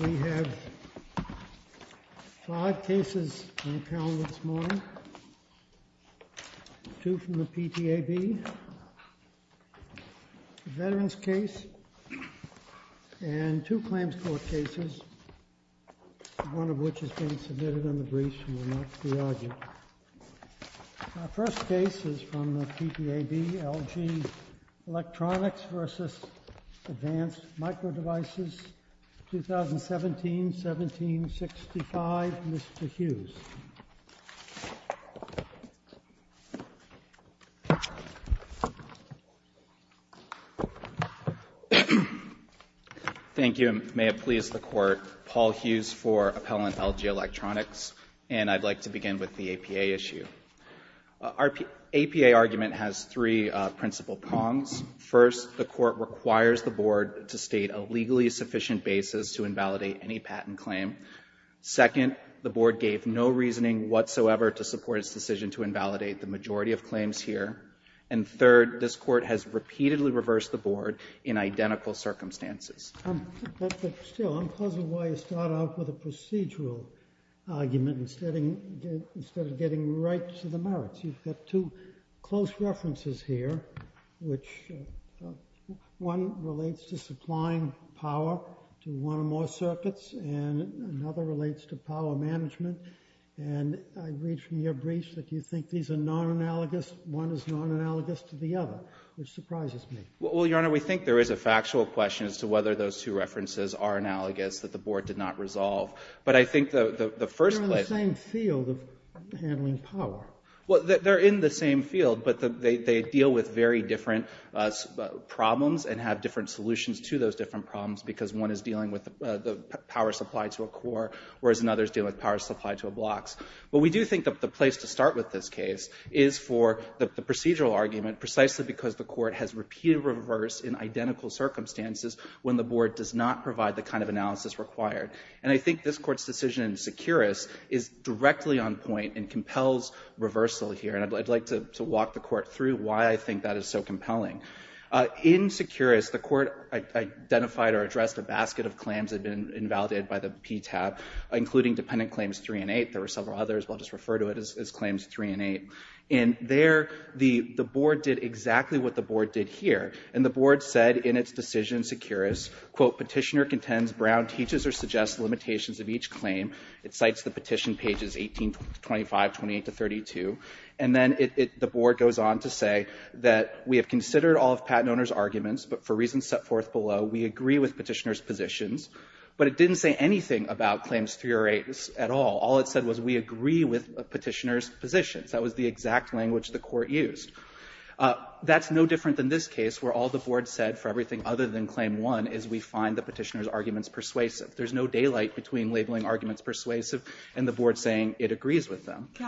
We have five cases on the calendar this morning, two from the PTAB, a Veterans case, and two Claims Court cases, one of which is being submitted on the briefs and will not be argued. Our first case is from the PTAB, LG Electronics v. Advanced Microdevices, 2017-1765, Mr. Hughes. Thank you. May it please the Court. Paul Hughes for Appellant LG Electronics, and I'd like to begin with the APA issue. Our APA argument has three principal prongs. First, the Court requires the Board to state a legally sufficient basis to invalidate any patent claim. Second, the Board gave no reasoning whatsoever to support its decision to invalidate the majority of claims here. And third, this Court has repeatedly reversed the Board in identical circumstances. But still, I'm puzzled why you start out with a procedural argument instead of getting right to the merits. You've got two close references here, which one relates to supplying power to one or more circuits, and another relates to power management. And I read from your briefs that you think these are non-analogous. One is non-analogous to the other, which surprises me. Well, Your Honor, we think there is a factual question as to whether those two references are analogous that the Board did not resolve. But I think the first place— They're in the same field of handling power. Well, they're in the same field, but they deal with very different problems and have different solutions to those different problems because one is dealing with the power supply to a core, whereas another is dealing with power supply to a blocks. But we do think that the place to start with this case is for the procedural argument precisely because the Court has repeatedly reversed in identical circumstances when the Board does not provide the kind of analysis required. And I think this Court's decision in Securus is directly on point and compels reversal here. And I'd like to walk the Court through why I think that is so compelling. In Securus, the Court identified or addressed a basket of claims that had been invalidated by the PTAB, including Dependent Claims 3 and 8. There were several others, but I'll just refer to it as Claims 3 and 8. And there, the Board did exactly what the Board did here. And the Board said in its decision in Securus, quote, Petitioner contends Brown teaches or suggests limitations of each claim. It cites the petition pages 18 to 25, 28 to 32. And then the Board goes on to say that we have considered all of Pattenonor's arguments, but for reasons set forth below, we agree with Petitioner's positions. But it didn't say anything about Claims 3 or 8 at all. All it said was we agree with Petitioner's positions. That was the exact language the Court used. That's no different than this case where all the Board said for everything other than Claim 1 is we find the Petitioner's arguments persuasive. There's no daylight between labeling arguments persuasive and the Board saying it agrees with them. Can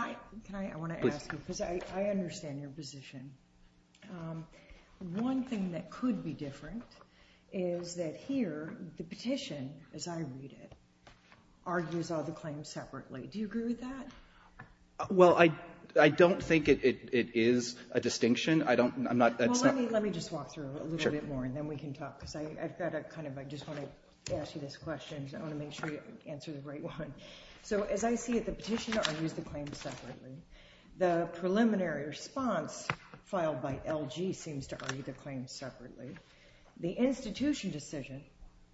I, I want to ask you, because I understand your position. One thing that could be different is that here, the petition, as I read it, argues all the claims separately. Do you agree with that? Well, I don't think it is a distinction. I don't, I'm not. Well, let me just walk through a little bit more, and then we can talk, because I've got a kind of, I just want to ask you this question. I want to make sure you answer the right one. So as I see it, the Petitioner argues the claims separately. The preliminary response filed by LG seems to argue the claims separately. The institution decision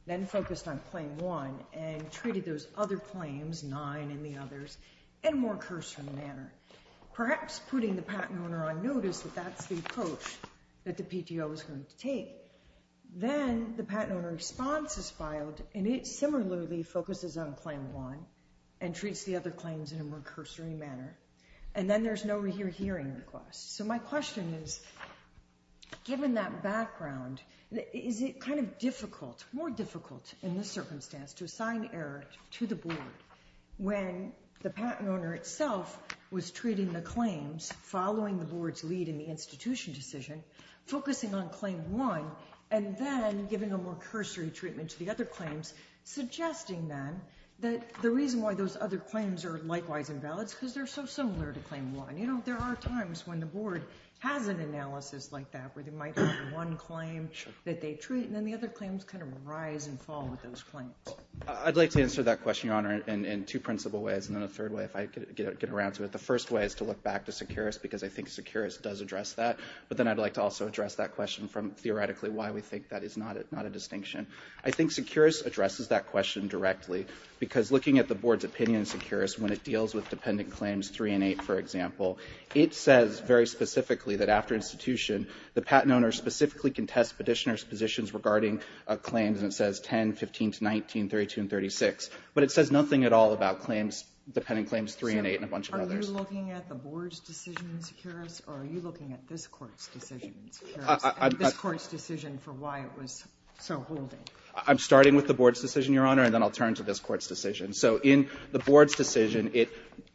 then focused on Claim 1 and treated those other claims, 9 and the others, in a more cursory manner, perhaps putting the patent owner on notice that that's the approach that the PTO is going to take. Then the patent owner's response is filed, and it similarly focuses on Claim 1 and treats the other claims in a more cursory manner, and then there's no rehearing request. So my question is, given that background, is it kind of difficult, more difficult in this circumstance to assign error to the Board when the patent owner itself was treating the claims following the Board's lead in the institution decision, focusing on Claim 1, and then giving a more cursory treatment to the other claims, suggesting then that the reason why those other claims are likewise invalid is because they're so similar to Claim 1. You know, there are times when the Board has an analysis like that, where they might have one claim that they treat, and then the other claims kind of rise and fall with those claims. I'd like to answer that question, Your Honor, in two principal ways, and then a third way if I could get around to it. The first way is to look back to Seqirus, because I think Seqirus does address that, but then I'd like to also address that question from theoretically why we think that is not a distinction. I think Seqirus addresses that question directly, because looking at the Board's opinion in Seqirus when it deals with Dependent Claims 3 and 8, for example, it says very specifically that after institution, the patent owner specifically can test petitioner's positions regarding claims, and it says 10, 15, 19, 32, and 36, but it says nothing at all about claims, Dependent Claims 3 and 8 and a bunch of others. Are you looking at the Board's decision in Seqirus, or are you looking at this Court's decision in Seqirus, this Court's decision for why it was so holding? I'm starting with the Board's decision, Your Honor, and then I'll turn to this Court's decision. So in the Board's decision, it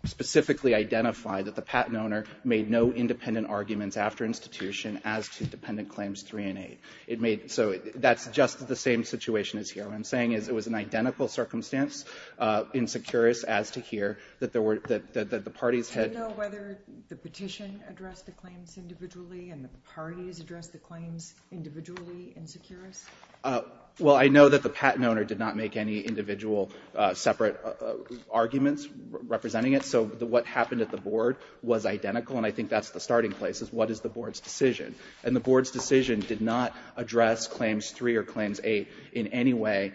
specifically identified that the patent owner made no independent arguments after institution as to Dependent Claims 3 and 8. It made so that's just the same situation as here. What I'm saying is it was an identical circumstance in Seqirus as to here, that the parties had— Do you know whether the petition addressed the claims individually and the parties addressed the claims individually in Seqirus? Well, I know that the patent owner did not make any individual separate arguments representing it, so what happened at the Board was identical, and I think that's the starting place, is what is the Board's decision? And the Board's decision did not address Claims 3 and 8 in any way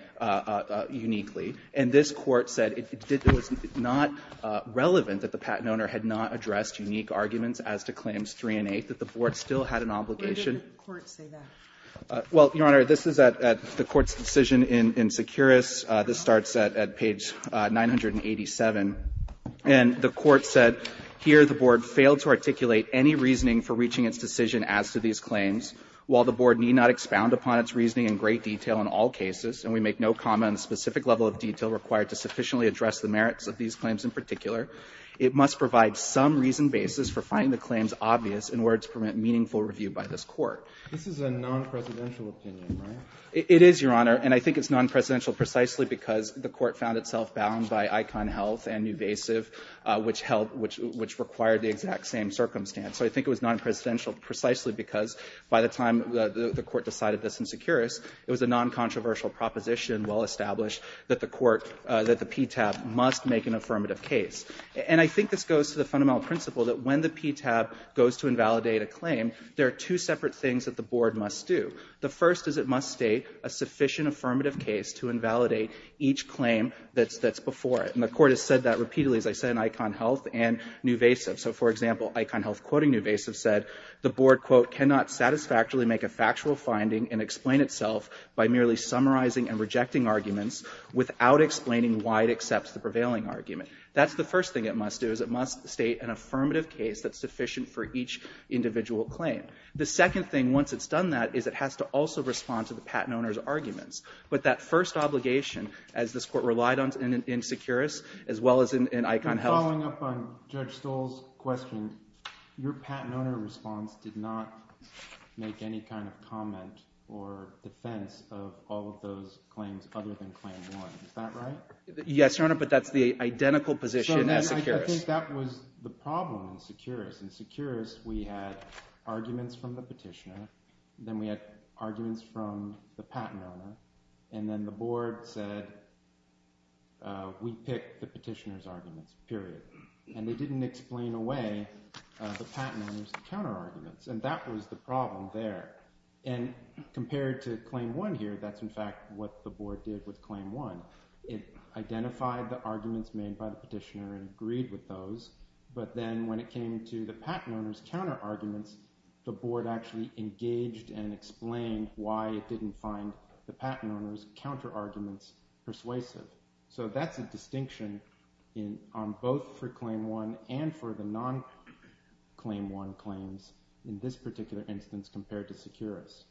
uniquely, and this Court said it was not relevant that the patent owner had not addressed unique arguments as to Claims 3 and 8, that the Board still had an obligation. Why didn't the Court say that? Well, Your Honor, this is at the Court's decision in Seqirus. This starts at page 987, and the Court said, here the Board failed to articulate any reasoning for reaching its decision as to these claims. While the Board need not expound upon its reasoning in great detail in all cases, and we make no comment on the specific level of detail required to sufficiently address the merits of these claims in particular, it must provide some reasoned basis for finding the claims obvious in order to permit meaningful review by this Court. This is a non-presidential opinion, right? It is, Your Honor, and I think it's non-presidential precisely because the Court found itself bound by ICON Health and Nuvasiv, which required the exact same circumstance. So I think it was non-presidential precisely because by the time the Court decided this in Seqirus, it was a non-controversial proposition well established that the PTAB must make an affirmative case. And I think this goes to the fundamental principle that when the PTAB goes to invalidate a claim, there are two separate things that the Board must do. The first is it must state a sufficient affirmative case to invalidate each claim that's before it. And the Court has said that repeatedly, as I said, in ICON Health and Nuvasiv. So, for example, ICON Health quoting Nuvasiv said, the Board, quote, cannot satisfactorily make a factual finding and explain itself by merely summarizing and rejecting arguments without explaining why it accepts the prevailing argument. That's the first thing it must do, is it must state an affirmative case that's sufficient for each individual claim. The second thing, once it's done that, is it has to also respond to the patent owner's arguments. But that first obligation, as this Court relied on in Seqirus, as well as in ICON Health following up on Judge Stoll's question, your patent owner response did not make any kind of comment or defense of all of those claims other than claim one. Is that right? Yes, Your Honor, but that's the identical position as Seqirus. I think that was the problem in Seqirus. In Seqirus, we had arguments from the petitioner, then we had arguments from the patent owner, and then the Board said, we pick the petitioner's arguments, period. And they didn't explain away the patent owner's counterarguments, and that was the problem there. And compared to claim one here, that's in fact what the Board did with claim one. It identified the arguments made by the petitioner and agreed with those, but then when it came to the patent owner's counterarguments, the Board actually engaged and explained why it was the patent owner's counterarguments persuasive. So that's a distinction on both for claim one and for the non-claim one claims in this particular instance compared to Seqirus.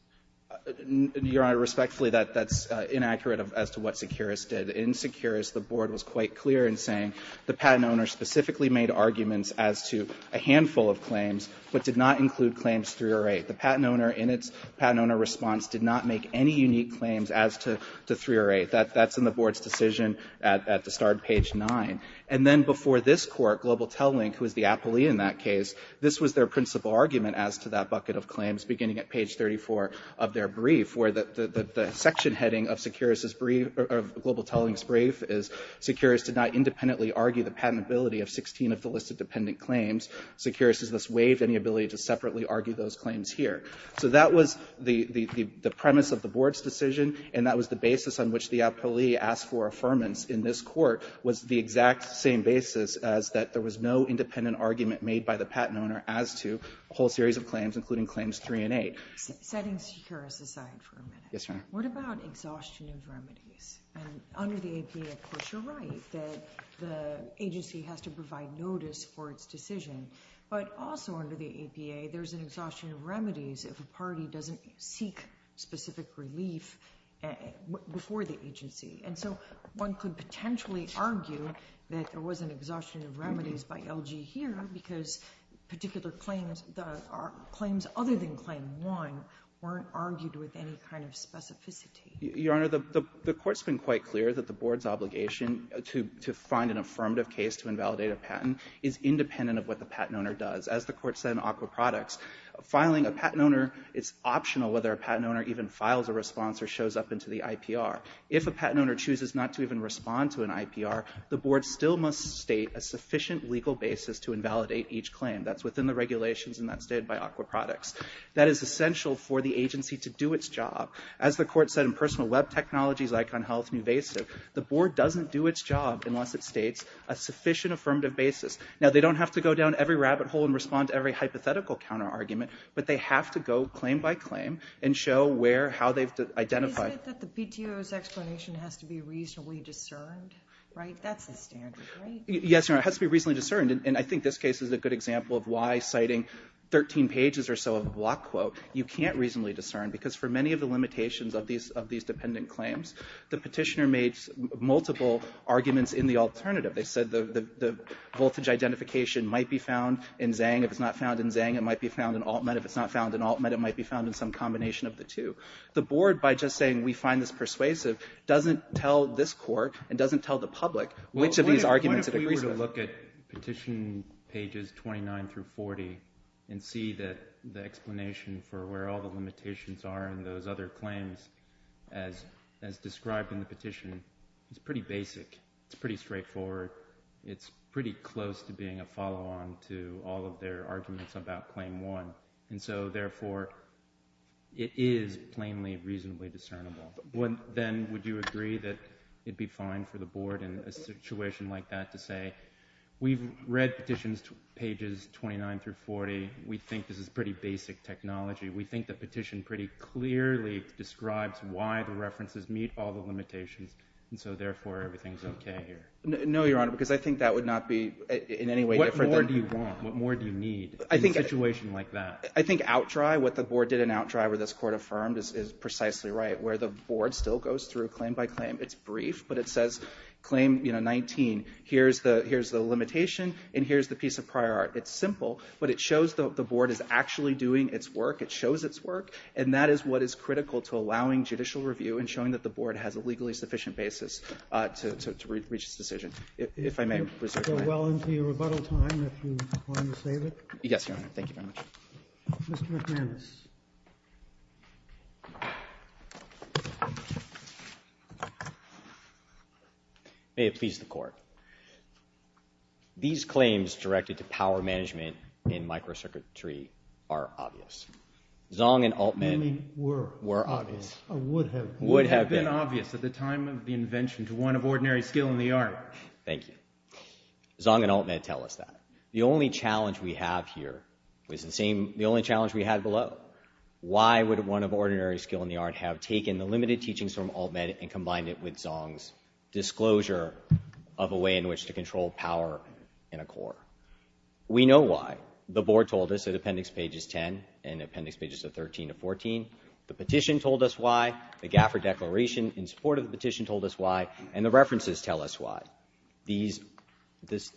Your Honor, respectfully, that's inaccurate as to what Seqirus did. In Seqirus, the Board was quite clear in saying the patent owner specifically made arguments as to a handful of claims, but did not include claims three or eight. The patent owner in its patent owner response did not make any unique claims as to three or eight. That's in the Board's decision at the start of page nine. And then before this Court, Global Telling, who was the appellee in that case, this was their principal argument as to that bucket of claims beginning at page 34 of their brief, where the section heading of Global Telling's brief is Seqirus did not independently argue the patentability of 16 of the listed dependent claims. Seqirus has thus waived any ability to separately argue those claims here. So that was the premise of the Board's decision, and that was the basis on which the appellee asked for affirmance in this Court was the exact same basis as that there was no independent argument made by the patent owner as to a whole series of claims, including claims three and eight. Setting Seqirus aside for a minute, what about exhaustion of remedies? And under the APA, of course, you're right that the agency has to provide notice for its decision. But also under the APA, there's an exhaustion of remedies if a party doesn't seek specific relief before the agency. And so one could potentially argue that there was an exhaustion of remedies by LG here because particular claims, claims other than claim one, weren't argued with any kind of specificity. Your Honor, the Court's been quite clear that the Board's obligation to find an affirmative case to invalidate a patent is independent of what the patent owner does. As the Court said in AQUA Products, filing a patent owner, it's optional whether a patent owner even files a response or shows up into the IPR. If a patent owner chooses not to even respond to an IPR, the Board still must state a sufficient legal basis to invalidate each claim. That's within the regulations and that's stated by AQUA Products. That is essential for the agency to do its job. As the Court said in Personal Web Technologies, Icon Health, Nuvasiv, the Board doesn't do its job unless it states a sufficient affirmative basis. Now, they don't have to go down every rabbit hole and respond to every hypothetical counter-argument, but they have to go claim by claim and show where, how they've identified. Isn't it that the PTO's explanation has to be reasonably discerned? Right? That's the standard, right? Yes, Your Honor, it has to be reasonably discerned. And I think this case is a good example of why citing 13 pages or so of a block quote, you can't reasonably discern, because for many of the limitations of these dependent claims, the petitioner made multiple arguments in the alternative. They said the voltage identification might be found in Zang. If it's not found in Zang, it might be found in Altmet. If it's not found in Altmet, it might be found in some combination of the two. The Board, by just saying we find this persuasive, doesn't tell this Court and doesn't tell the public which of these arguments it agrees with. But if you look at petition pages 29 through 40 and see that the explanation for where all the limitations are in those other claims as described in the petition, it's pretty basic. It's pretty straightforward. It's pretty close to being a follow-on to all of their arguments about claim one. And so, therefore, it is plainly reasonably discernible. Then would you agree that it would be fine for the Board in a situation like that to say, we've read petitions pages 29 through 40. We think this is pretty basic technology. We think the petition pretty clearly describes why the references meet all the limitations, and so, therefore, everything is okay here. No, Your Honor, because I think that would not be in any way different than— What more do you want? What more do you need in a situation like that? I think outdry, what the Board did in outdry, where this Court affirmed, is precisely right. Where the Board still goes through claim by claim. It's brief, but it says, claim 19, here's the limitation, and here's the piece of prior art. It's simple, but it shows that the Board is actually doing its work. It shows its work, and that is what is critical to allowing judicial review and showing that the Board has a legally sufficient basis to reach its decision. If I may reserve your time. You're well into your rebuttal time, if you want to save it. Yes, Your Honor. Thank you very much. Mr. McManus. May it please the Court. These claims directed to power management in microcircuitry are obvious. Zong and Altman were obvious. I mean, were obvious. Or would have been. Would have been. Would have been obvious at the time of the invention to one of ordinary skill in the art. Thank you. Zong and Altman tell us that. The only challenge we have here was the same, the only challenge we had below. Why would one of ordinary skill in the art have taken the limited teachings from Altman and combined it with Zong's disclosure of a way in which to control power in a core? We know why. The Board told us at Appendix Pages 10 and Appendix Pages 13 to 14. The petition told us why. The Gafford Declaration, in support of the petition, told us why. And the references tell us why. These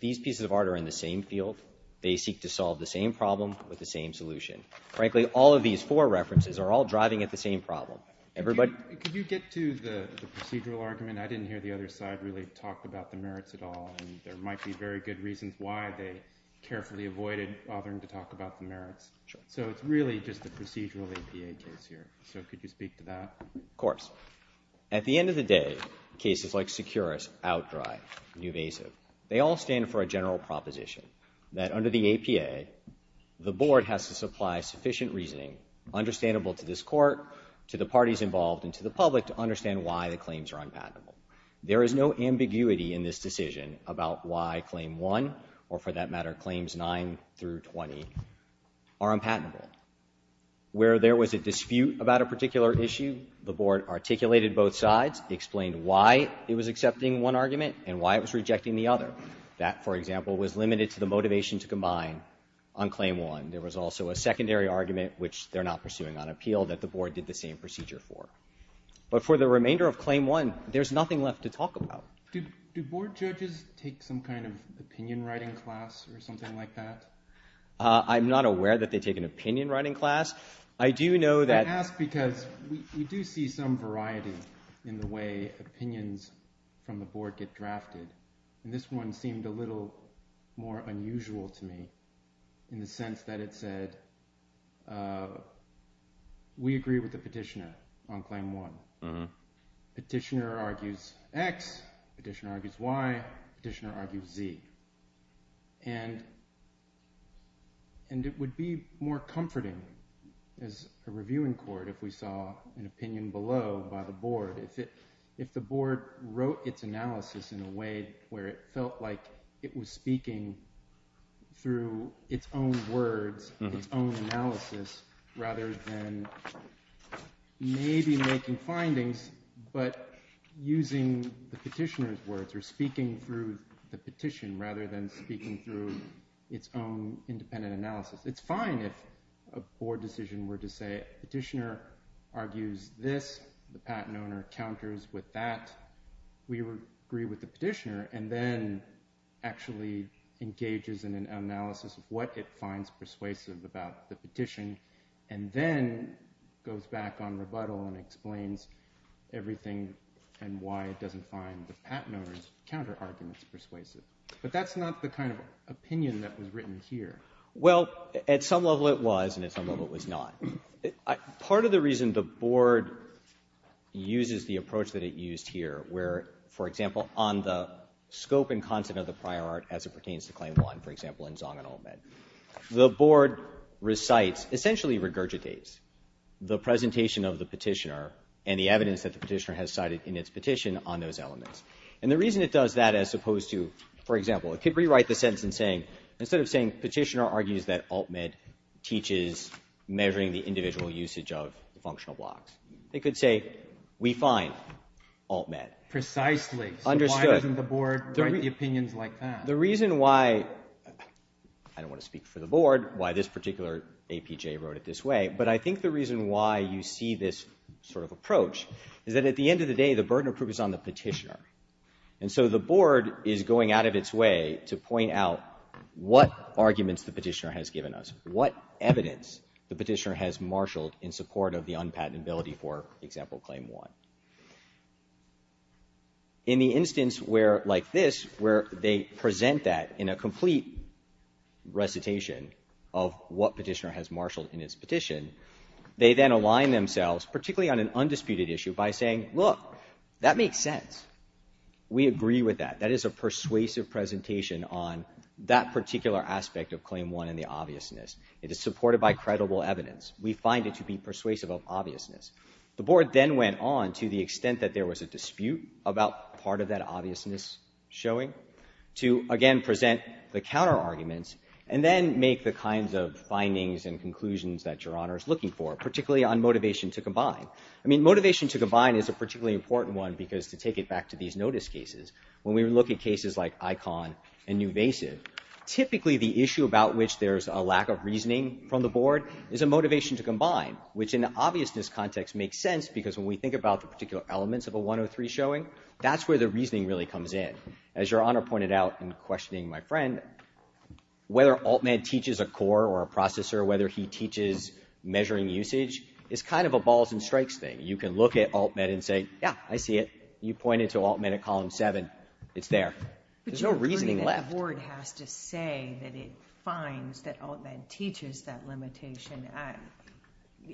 pieces of art are in the same field. They seek to solve the same problem with the same solution. Frankly, all of these four references are all driving at the same problem. Everybody... Could you get to the procedural argument? I didn't hear the other side really talk about the merits at all. And there might be very good reasons why they carefully avoided bothering to talk about the merits. Sure. So it's really just a procedural APA case here. So could you speak to that? Of course. At the end of the day, cases like Securus outdry. They all stand for a general proposition that under the APA, the Board has to supply sufficient reasoning understandable to this Court, to the parties involved, and to the public to understand why the claims are unpatentable. There is no ambiguity in this decision about why Claim 1, or for that matter, Claims 9 through 20, are unpatentable. Where there was a dispute about a particular issue, the Board articulated both sides, explained why it was accepting one argument and why it was rejecting the other. That, for example, was limited to the motivation to combine on Claim 1. There was also a secondary argument, which they're not pursuing on appeal, that the Board did the same procedure for. But for the remainder of Claim 1, there's nothing left to talk about. Do Board judges take some kind of opinion writing class or something like that? I'm not aware that they take an opinion writing class. I do know that... I do see some variety in the way opinions from the Board get drafted, and this one seemed a little more unusual to me, in the sense that it said, we agree with the petitioner on Claim 1. Petitioner argues X, petitioner argues Y, petitioner argues Z. And it would be more comforting as a reviewing court if we saw an opinion below by the Board. If the Board wrote its analysis in a way where it felt like it was speaking through its own words, its own analysis, rather than maybe making findings, but using the petitioner's speaking through the petition, rather than speaking through its own independent analysis. It's fine if a Board decision were to say, petitioner argues this, the patent owner counters with that, we agree with the petitioner, and then actually engages in an analysis of what it finds persuasive about the petition, and then goes back on rebuttal and explains everything and why it doesn't find the patent owner's counterarguments persuasive. But that's not the kind of opinion that was written here. Well, at some level it was, and at some level it was not. Part of the reason the Board uses the approach that it used here, where, for example, on the scope and content of the prior art as it pertains to Claim 1, for example, in Zong and Olmed, the Board recites, essentially regurgitates, the presentation of the petitioner and the evidence that the petitioner has cited in its petition on those elements. And the reason it does that as opposed to, for example, it could rewrite the sentence in saying, instead of saying, petitioner argues that Olmed teaches measuring the individual usage of functional blocks. It could say, we find Olmed. Precisely. Understood. So why doesn't the Board write the opinions like that? The reason why, I don't want to speak for the Board, why this particular APJ wrote it this way, but I think the reason why you see this sort of approach is that at the end of the day, the burden of proof is on the petitioner. And so the Board is going out of its way to point out what arguments the petitioner has given us, what evidence the petitioner has marshaled in support of the unpatentability for, example, Claim 1. In the instance where, like this, where they present that in a complete recitation of what petitioner has marshaled in its petition, they then align themselves, particularly on an undisputed issue, by saying, look, that makes sense. We agree with that. That is a persuasive presentation on that particular aspect of Claim 1 and the obviousness. It is supported by credible evidence. We find it to be persuasive of obviousness. The Board then went on, to the extent that there was a dispute about part of that obviousness showing, to, again, present the counterarguments and then make the kinds of findings and conclusions that Your Honor is looking for, particularly on motivation to combine. I mean, motivation to combine is a particularly important one because, to take it back to these notice cases, when we look at cases like Icahn and Nuvasiv, typically the issue about which there is a lack of reasoning from the Board is a motivation to combine, which in the obviousness context makes sense because when we think about the particular elements of a 103 showing, that's where the reasoning really comes in. As Your Honor pointed out in questioning my friend, whether Alt-Med teaches a core or a processor, whether he teaches measuring usage, it's kind of a balls-and-strikes thing. You can look at Alt-Med and say, yeah, I see it. You point it to Alt-Med at Column 7. It's there. There's no reasoning left. But Your Honor, the Board has to say that it finds that Alt-Med teaches that limitation.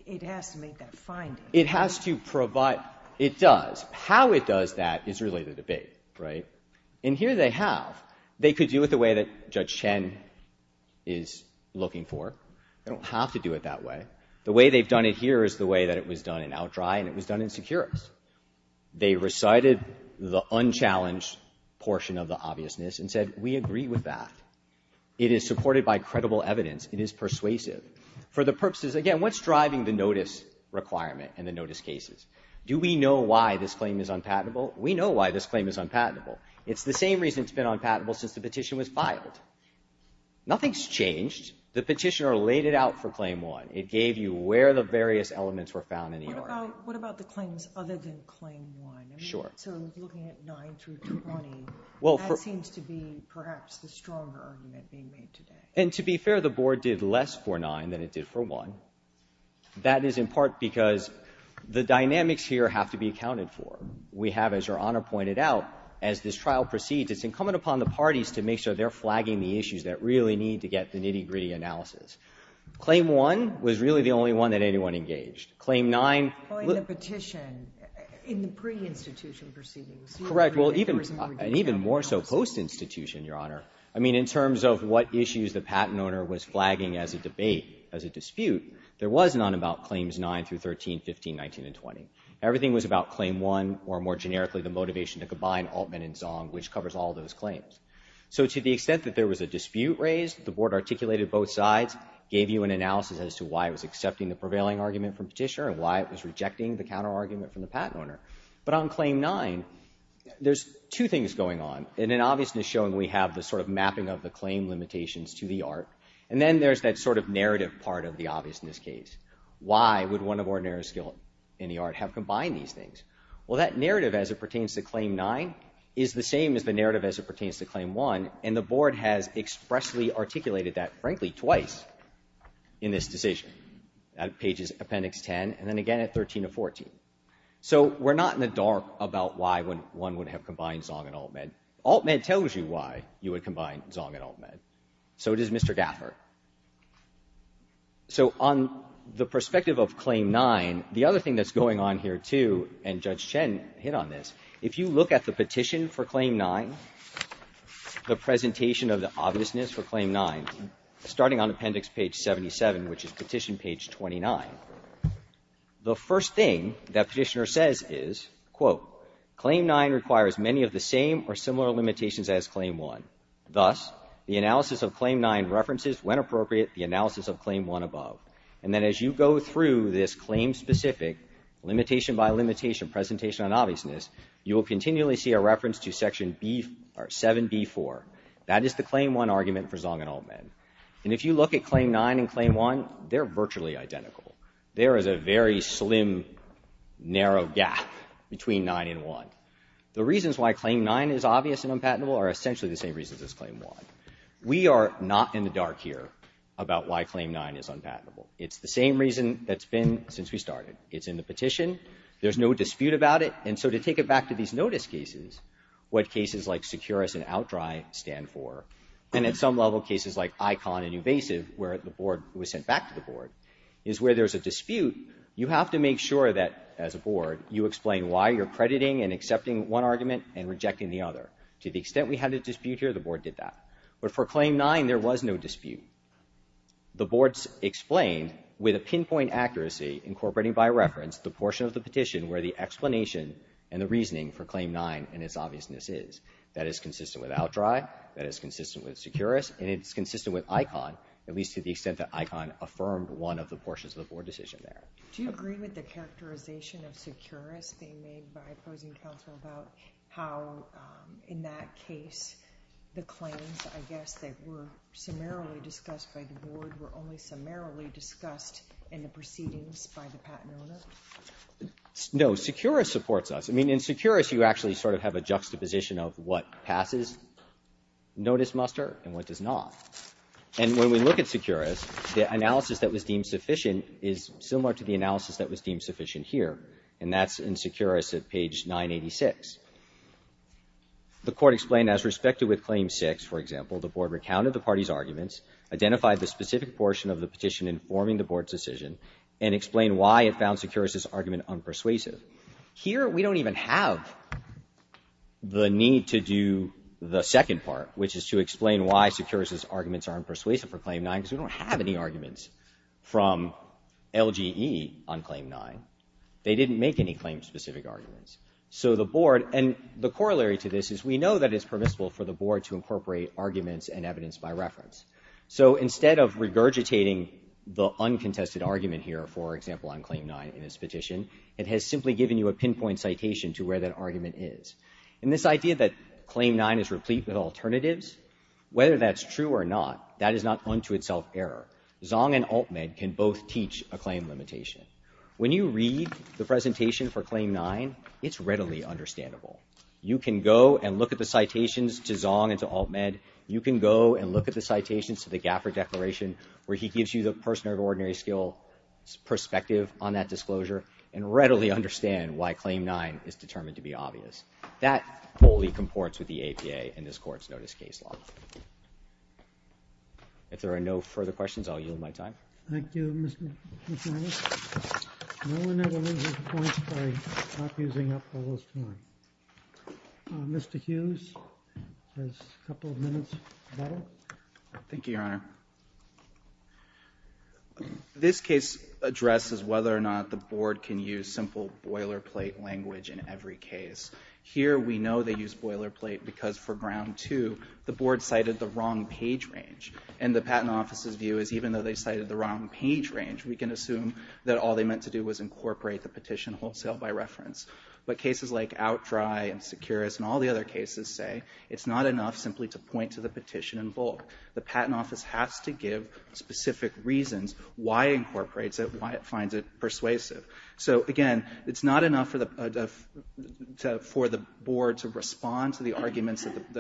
It has to make that finding. It has to provide. It does. How it does that is really the debate, right? And here they have. They could do it the way that Judge Chen is looking for. They don't have to do it that way. The way they've done it here is the way that it was done in Outdry and it was done in Securus. They recited the unchallenged portion of the obviousness and said, we agree with that. It is supported by credible evidence. It is persuasive. For the purposes, again, what's driving the notice requirement and the notice cases? Do we know why this claim is unpatentable? We know why this claim is unpatentable. It's the same reason it's been unpatentable since the petition was filed. Nothing's changed. The petitioner laid it out for Claim 1. It gave you where the various elements were found in the argument. What about the claims other than Claim 1? Sure. So looking at 9 through 20, that seems to be perhaps the stronger argument being made today. And to be fair, the Board did less for 9 than it did for 1. That is in part because the dynamics here have to be accounted for. We have, as Your Honor pointed out, as this trial proceeds, it's incumbent upon the parties to make sure they're flagging the issues that really need to get the nitty-gritty analysis. Claim 1 was really the only one that anyone engaged. Claim 9 ---- Well, in the petition, in the pre-institution proceedings. Correct. Well, even more so post-institution, Your Honor. I mean, in terms of what issues the patent owner was flagging as a debate, as a dispute, there was none about Claims 9 through 13, 15, 19, and 20. Everything was about Claim 1, or more generically, the motivation to combine Altman and Zong, which covers all those claims. So to the extent that there was a dispute raised, the Board articulated both sides, gave you an analysis as to why it was accepting the prevailing argument from Petitioner and why it was rejecting the counterargument from the patent owner. But on Claim 9, there's two things going on. In an obviousness showing, we have the sort of mapping of the claim limitations to the art, and then there's that sort of narrative part of the obviousness case. Why would one of our narrow skill in the art have combined these things? Well, that narrative as it pertains to Claim 9 is the same as the narrative as it pertains to Claim 1, and the Board has expressly articulated that, frankly, twice in this decision, at pages Appendix 10 and then again at 13 and 14. So we're not in the dark about why one would have combined Zong and Altman. Altman tells you why you would combine Zong and Altman. So does Mr. Gaffer. So on the perspective of Claim 9, the other thing that's going on here, too, and Judge Chen hit on this, if you look at the petition for Claim 9, the presentation of the obviousness for Claim 9, starting on Appendix page 77, which is Petition Page 29, the first thing that Petitioner says is, quote, Claim 9 requires many of the same or similar limitations as Claim 1. Thus, the analysis of Claim 9 references, when appropriate, the analysis of Claim 1 above. And then as you go through this claim-specific, limitation by limitation, presentation on obviousness, you will continually see a reference to Section 7b-4. That is the Claim 1 argument for Zong and Altman. And if you look at Claim 9 and Claim 1, they're virtually identical. There is a very slim, narrow gap between 9 and 1. The reasons why Claim 9 is obvious and unpatentable are essentially the same reasons as Claim 1. We are not in the dark here about why Claim 9 is unpatentable. It's the same reason that's been since we started. It's in the petition. There's no dispute about it. And so to take it back to these notice cases, what cases like Securus and OutDry stand for, and at some level cases like ICON and UBASIV, where the board was sent back to the board, is where there's a dispute. You have to make sure that, as a board, you explain why you're crediting and accepting one argument and rejecting the other. To the extent we had a dispute here, the board did that. But for Claim 9, there was no dispute. The board explained with a pinpoint accuracy incorporating by reference the portion of the petition where the explanation and the reasoning for Claim 9 and its obviousness is. That is consistent with OutDry. That is consistent with Securus. And it's consistent with ICON, at least to the extent that ICON affirmed one of the portions of the board decision there. Do you agree with the characterization of Securus being made by opposing counsel about how, in that case, the claims, I guess, that were summarily discussed by the board were only summarily discussed in the proceedings by the patent owner? No. Securus supports us. I mean, in Securus, you actually sort of have a juxtaposition of what passes notice muster and what does not. And when we look at Securus, the analysis that was deemed sufficient is similar to the analysis that was deemed sufficient here. And that's in Securus at page 986. The court explained, as respected with Claim 6, for example, the board recounted the party's arguments, identified the specific portion of the petition informing the board's decision, and explained why it found Securus's argument unpersuasive. Here, we don't even have the need to do the second part, which is to explain why Securus's arguments are unpersuasive for Claim 9, because we don't have any arguments from LGE on Claim 9. They didn't make any claim-specific arguments. So the board — and the corollary to this is we know that it's permissible for the board to incorporate arguments and evidence by reference. So instead of regurgitating the uncontested argument here, for example, on Claim 9 in LGE, it has simply given you a pinpoint citation to where that argument is. And this idea that Claim 9 is replete with alternatives, whether that's true or not, that is not unto itself error. Zong and Alt-Med can both teach a claim limitation. When you read the presentation for Claim 9, it's readily understandable. You can go and look at the citations to Zong and to Alt-Med. You can go and look at the citations to the Gaffer Declaration, where he gives you the person of ordinary skill's perspective on that disclosure and readily understand why Claim 9 is determined to be obvious. That wholly comports with the APA and this Court's notice case law. If there are no further questions, I'll yield my time. Thank you, Mr. Harris. No one ever loses points by not using up all this time. Thank you, Your Honor. This case addresses whether or not the Board can use simple boilerplate language in every case. Here, we know they use boilerplate because for Ground 2, the Board cited the wrong page range. And the Patent Office's view is even though they cited the wrong page range, we can assume that all they meant to do was incorporate the petition wholesale by reference. But cases like OutDry and Securus and all the other cases say it's not enough simply to point to the petition in bulk. The Patent Office has to give specific reasons why it incorporates it, why it finds it persuasive. So again, it's not enough for the Board to respond to the arguments that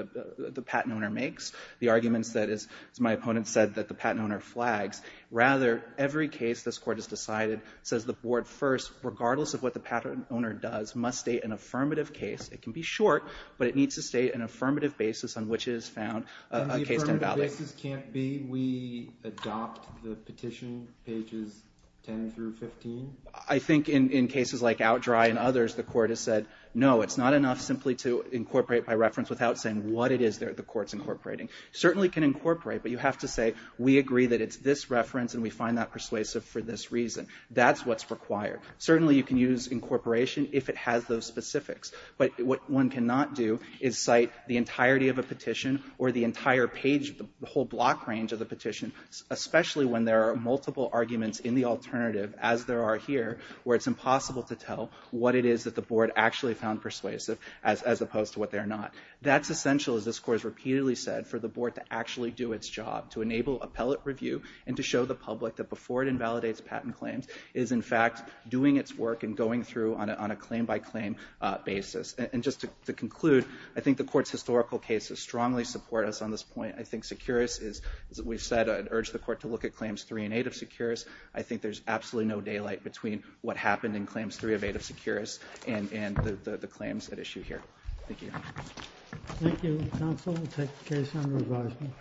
the patent owner makes, the arguments that, as my opponent said, that the patent owner flags. Rather, every case this Court has decided says the Board first, regardless of what the patent owner does, must state an affirmative case. It can be short, but it needs to state an affirmative basis on which it has found a case to evaluate. If the affirmative basis can't be, we adopt the petition pages 10 through 15? I think in cases like OutDry and others, the Court has said, no, it's not enough simply to incorporate by reference without saying what it is that the Court's incorporating. It certainly can incorporate, but you have to say, we agree that it's this reference and we find that persuasive for this reason. That's what's required. Certainly, you can use incorporation if it has those specifics. But what one cannot do is cite the entirety of a petition or the entire page, the whole block range of the petition, especially when there are multiple arguments in the alternative, as there are here, where it's impossible to tell what it is that the Board actually found persuasive as opposed to what they're not. That's essential, as this Court has repeatedly said, for the Board to actually do its job, to enable appellate review and to show the public that before it invalidates patent claims, it is in fact doing its work and going through on a claim-by-claim basis. And just to conclude, I think the Court's historical cases strongly support us on this point. I think Seqirus is, as we've said, I'd urge the Court to look at claims 3 and 8 of Seqirus. I think there's absolutely no daylight between what happened in claims 3 of 8 of Seqirus and the claims at issue here. Thank you. Thank you, counsel. We'll take the case under advisement.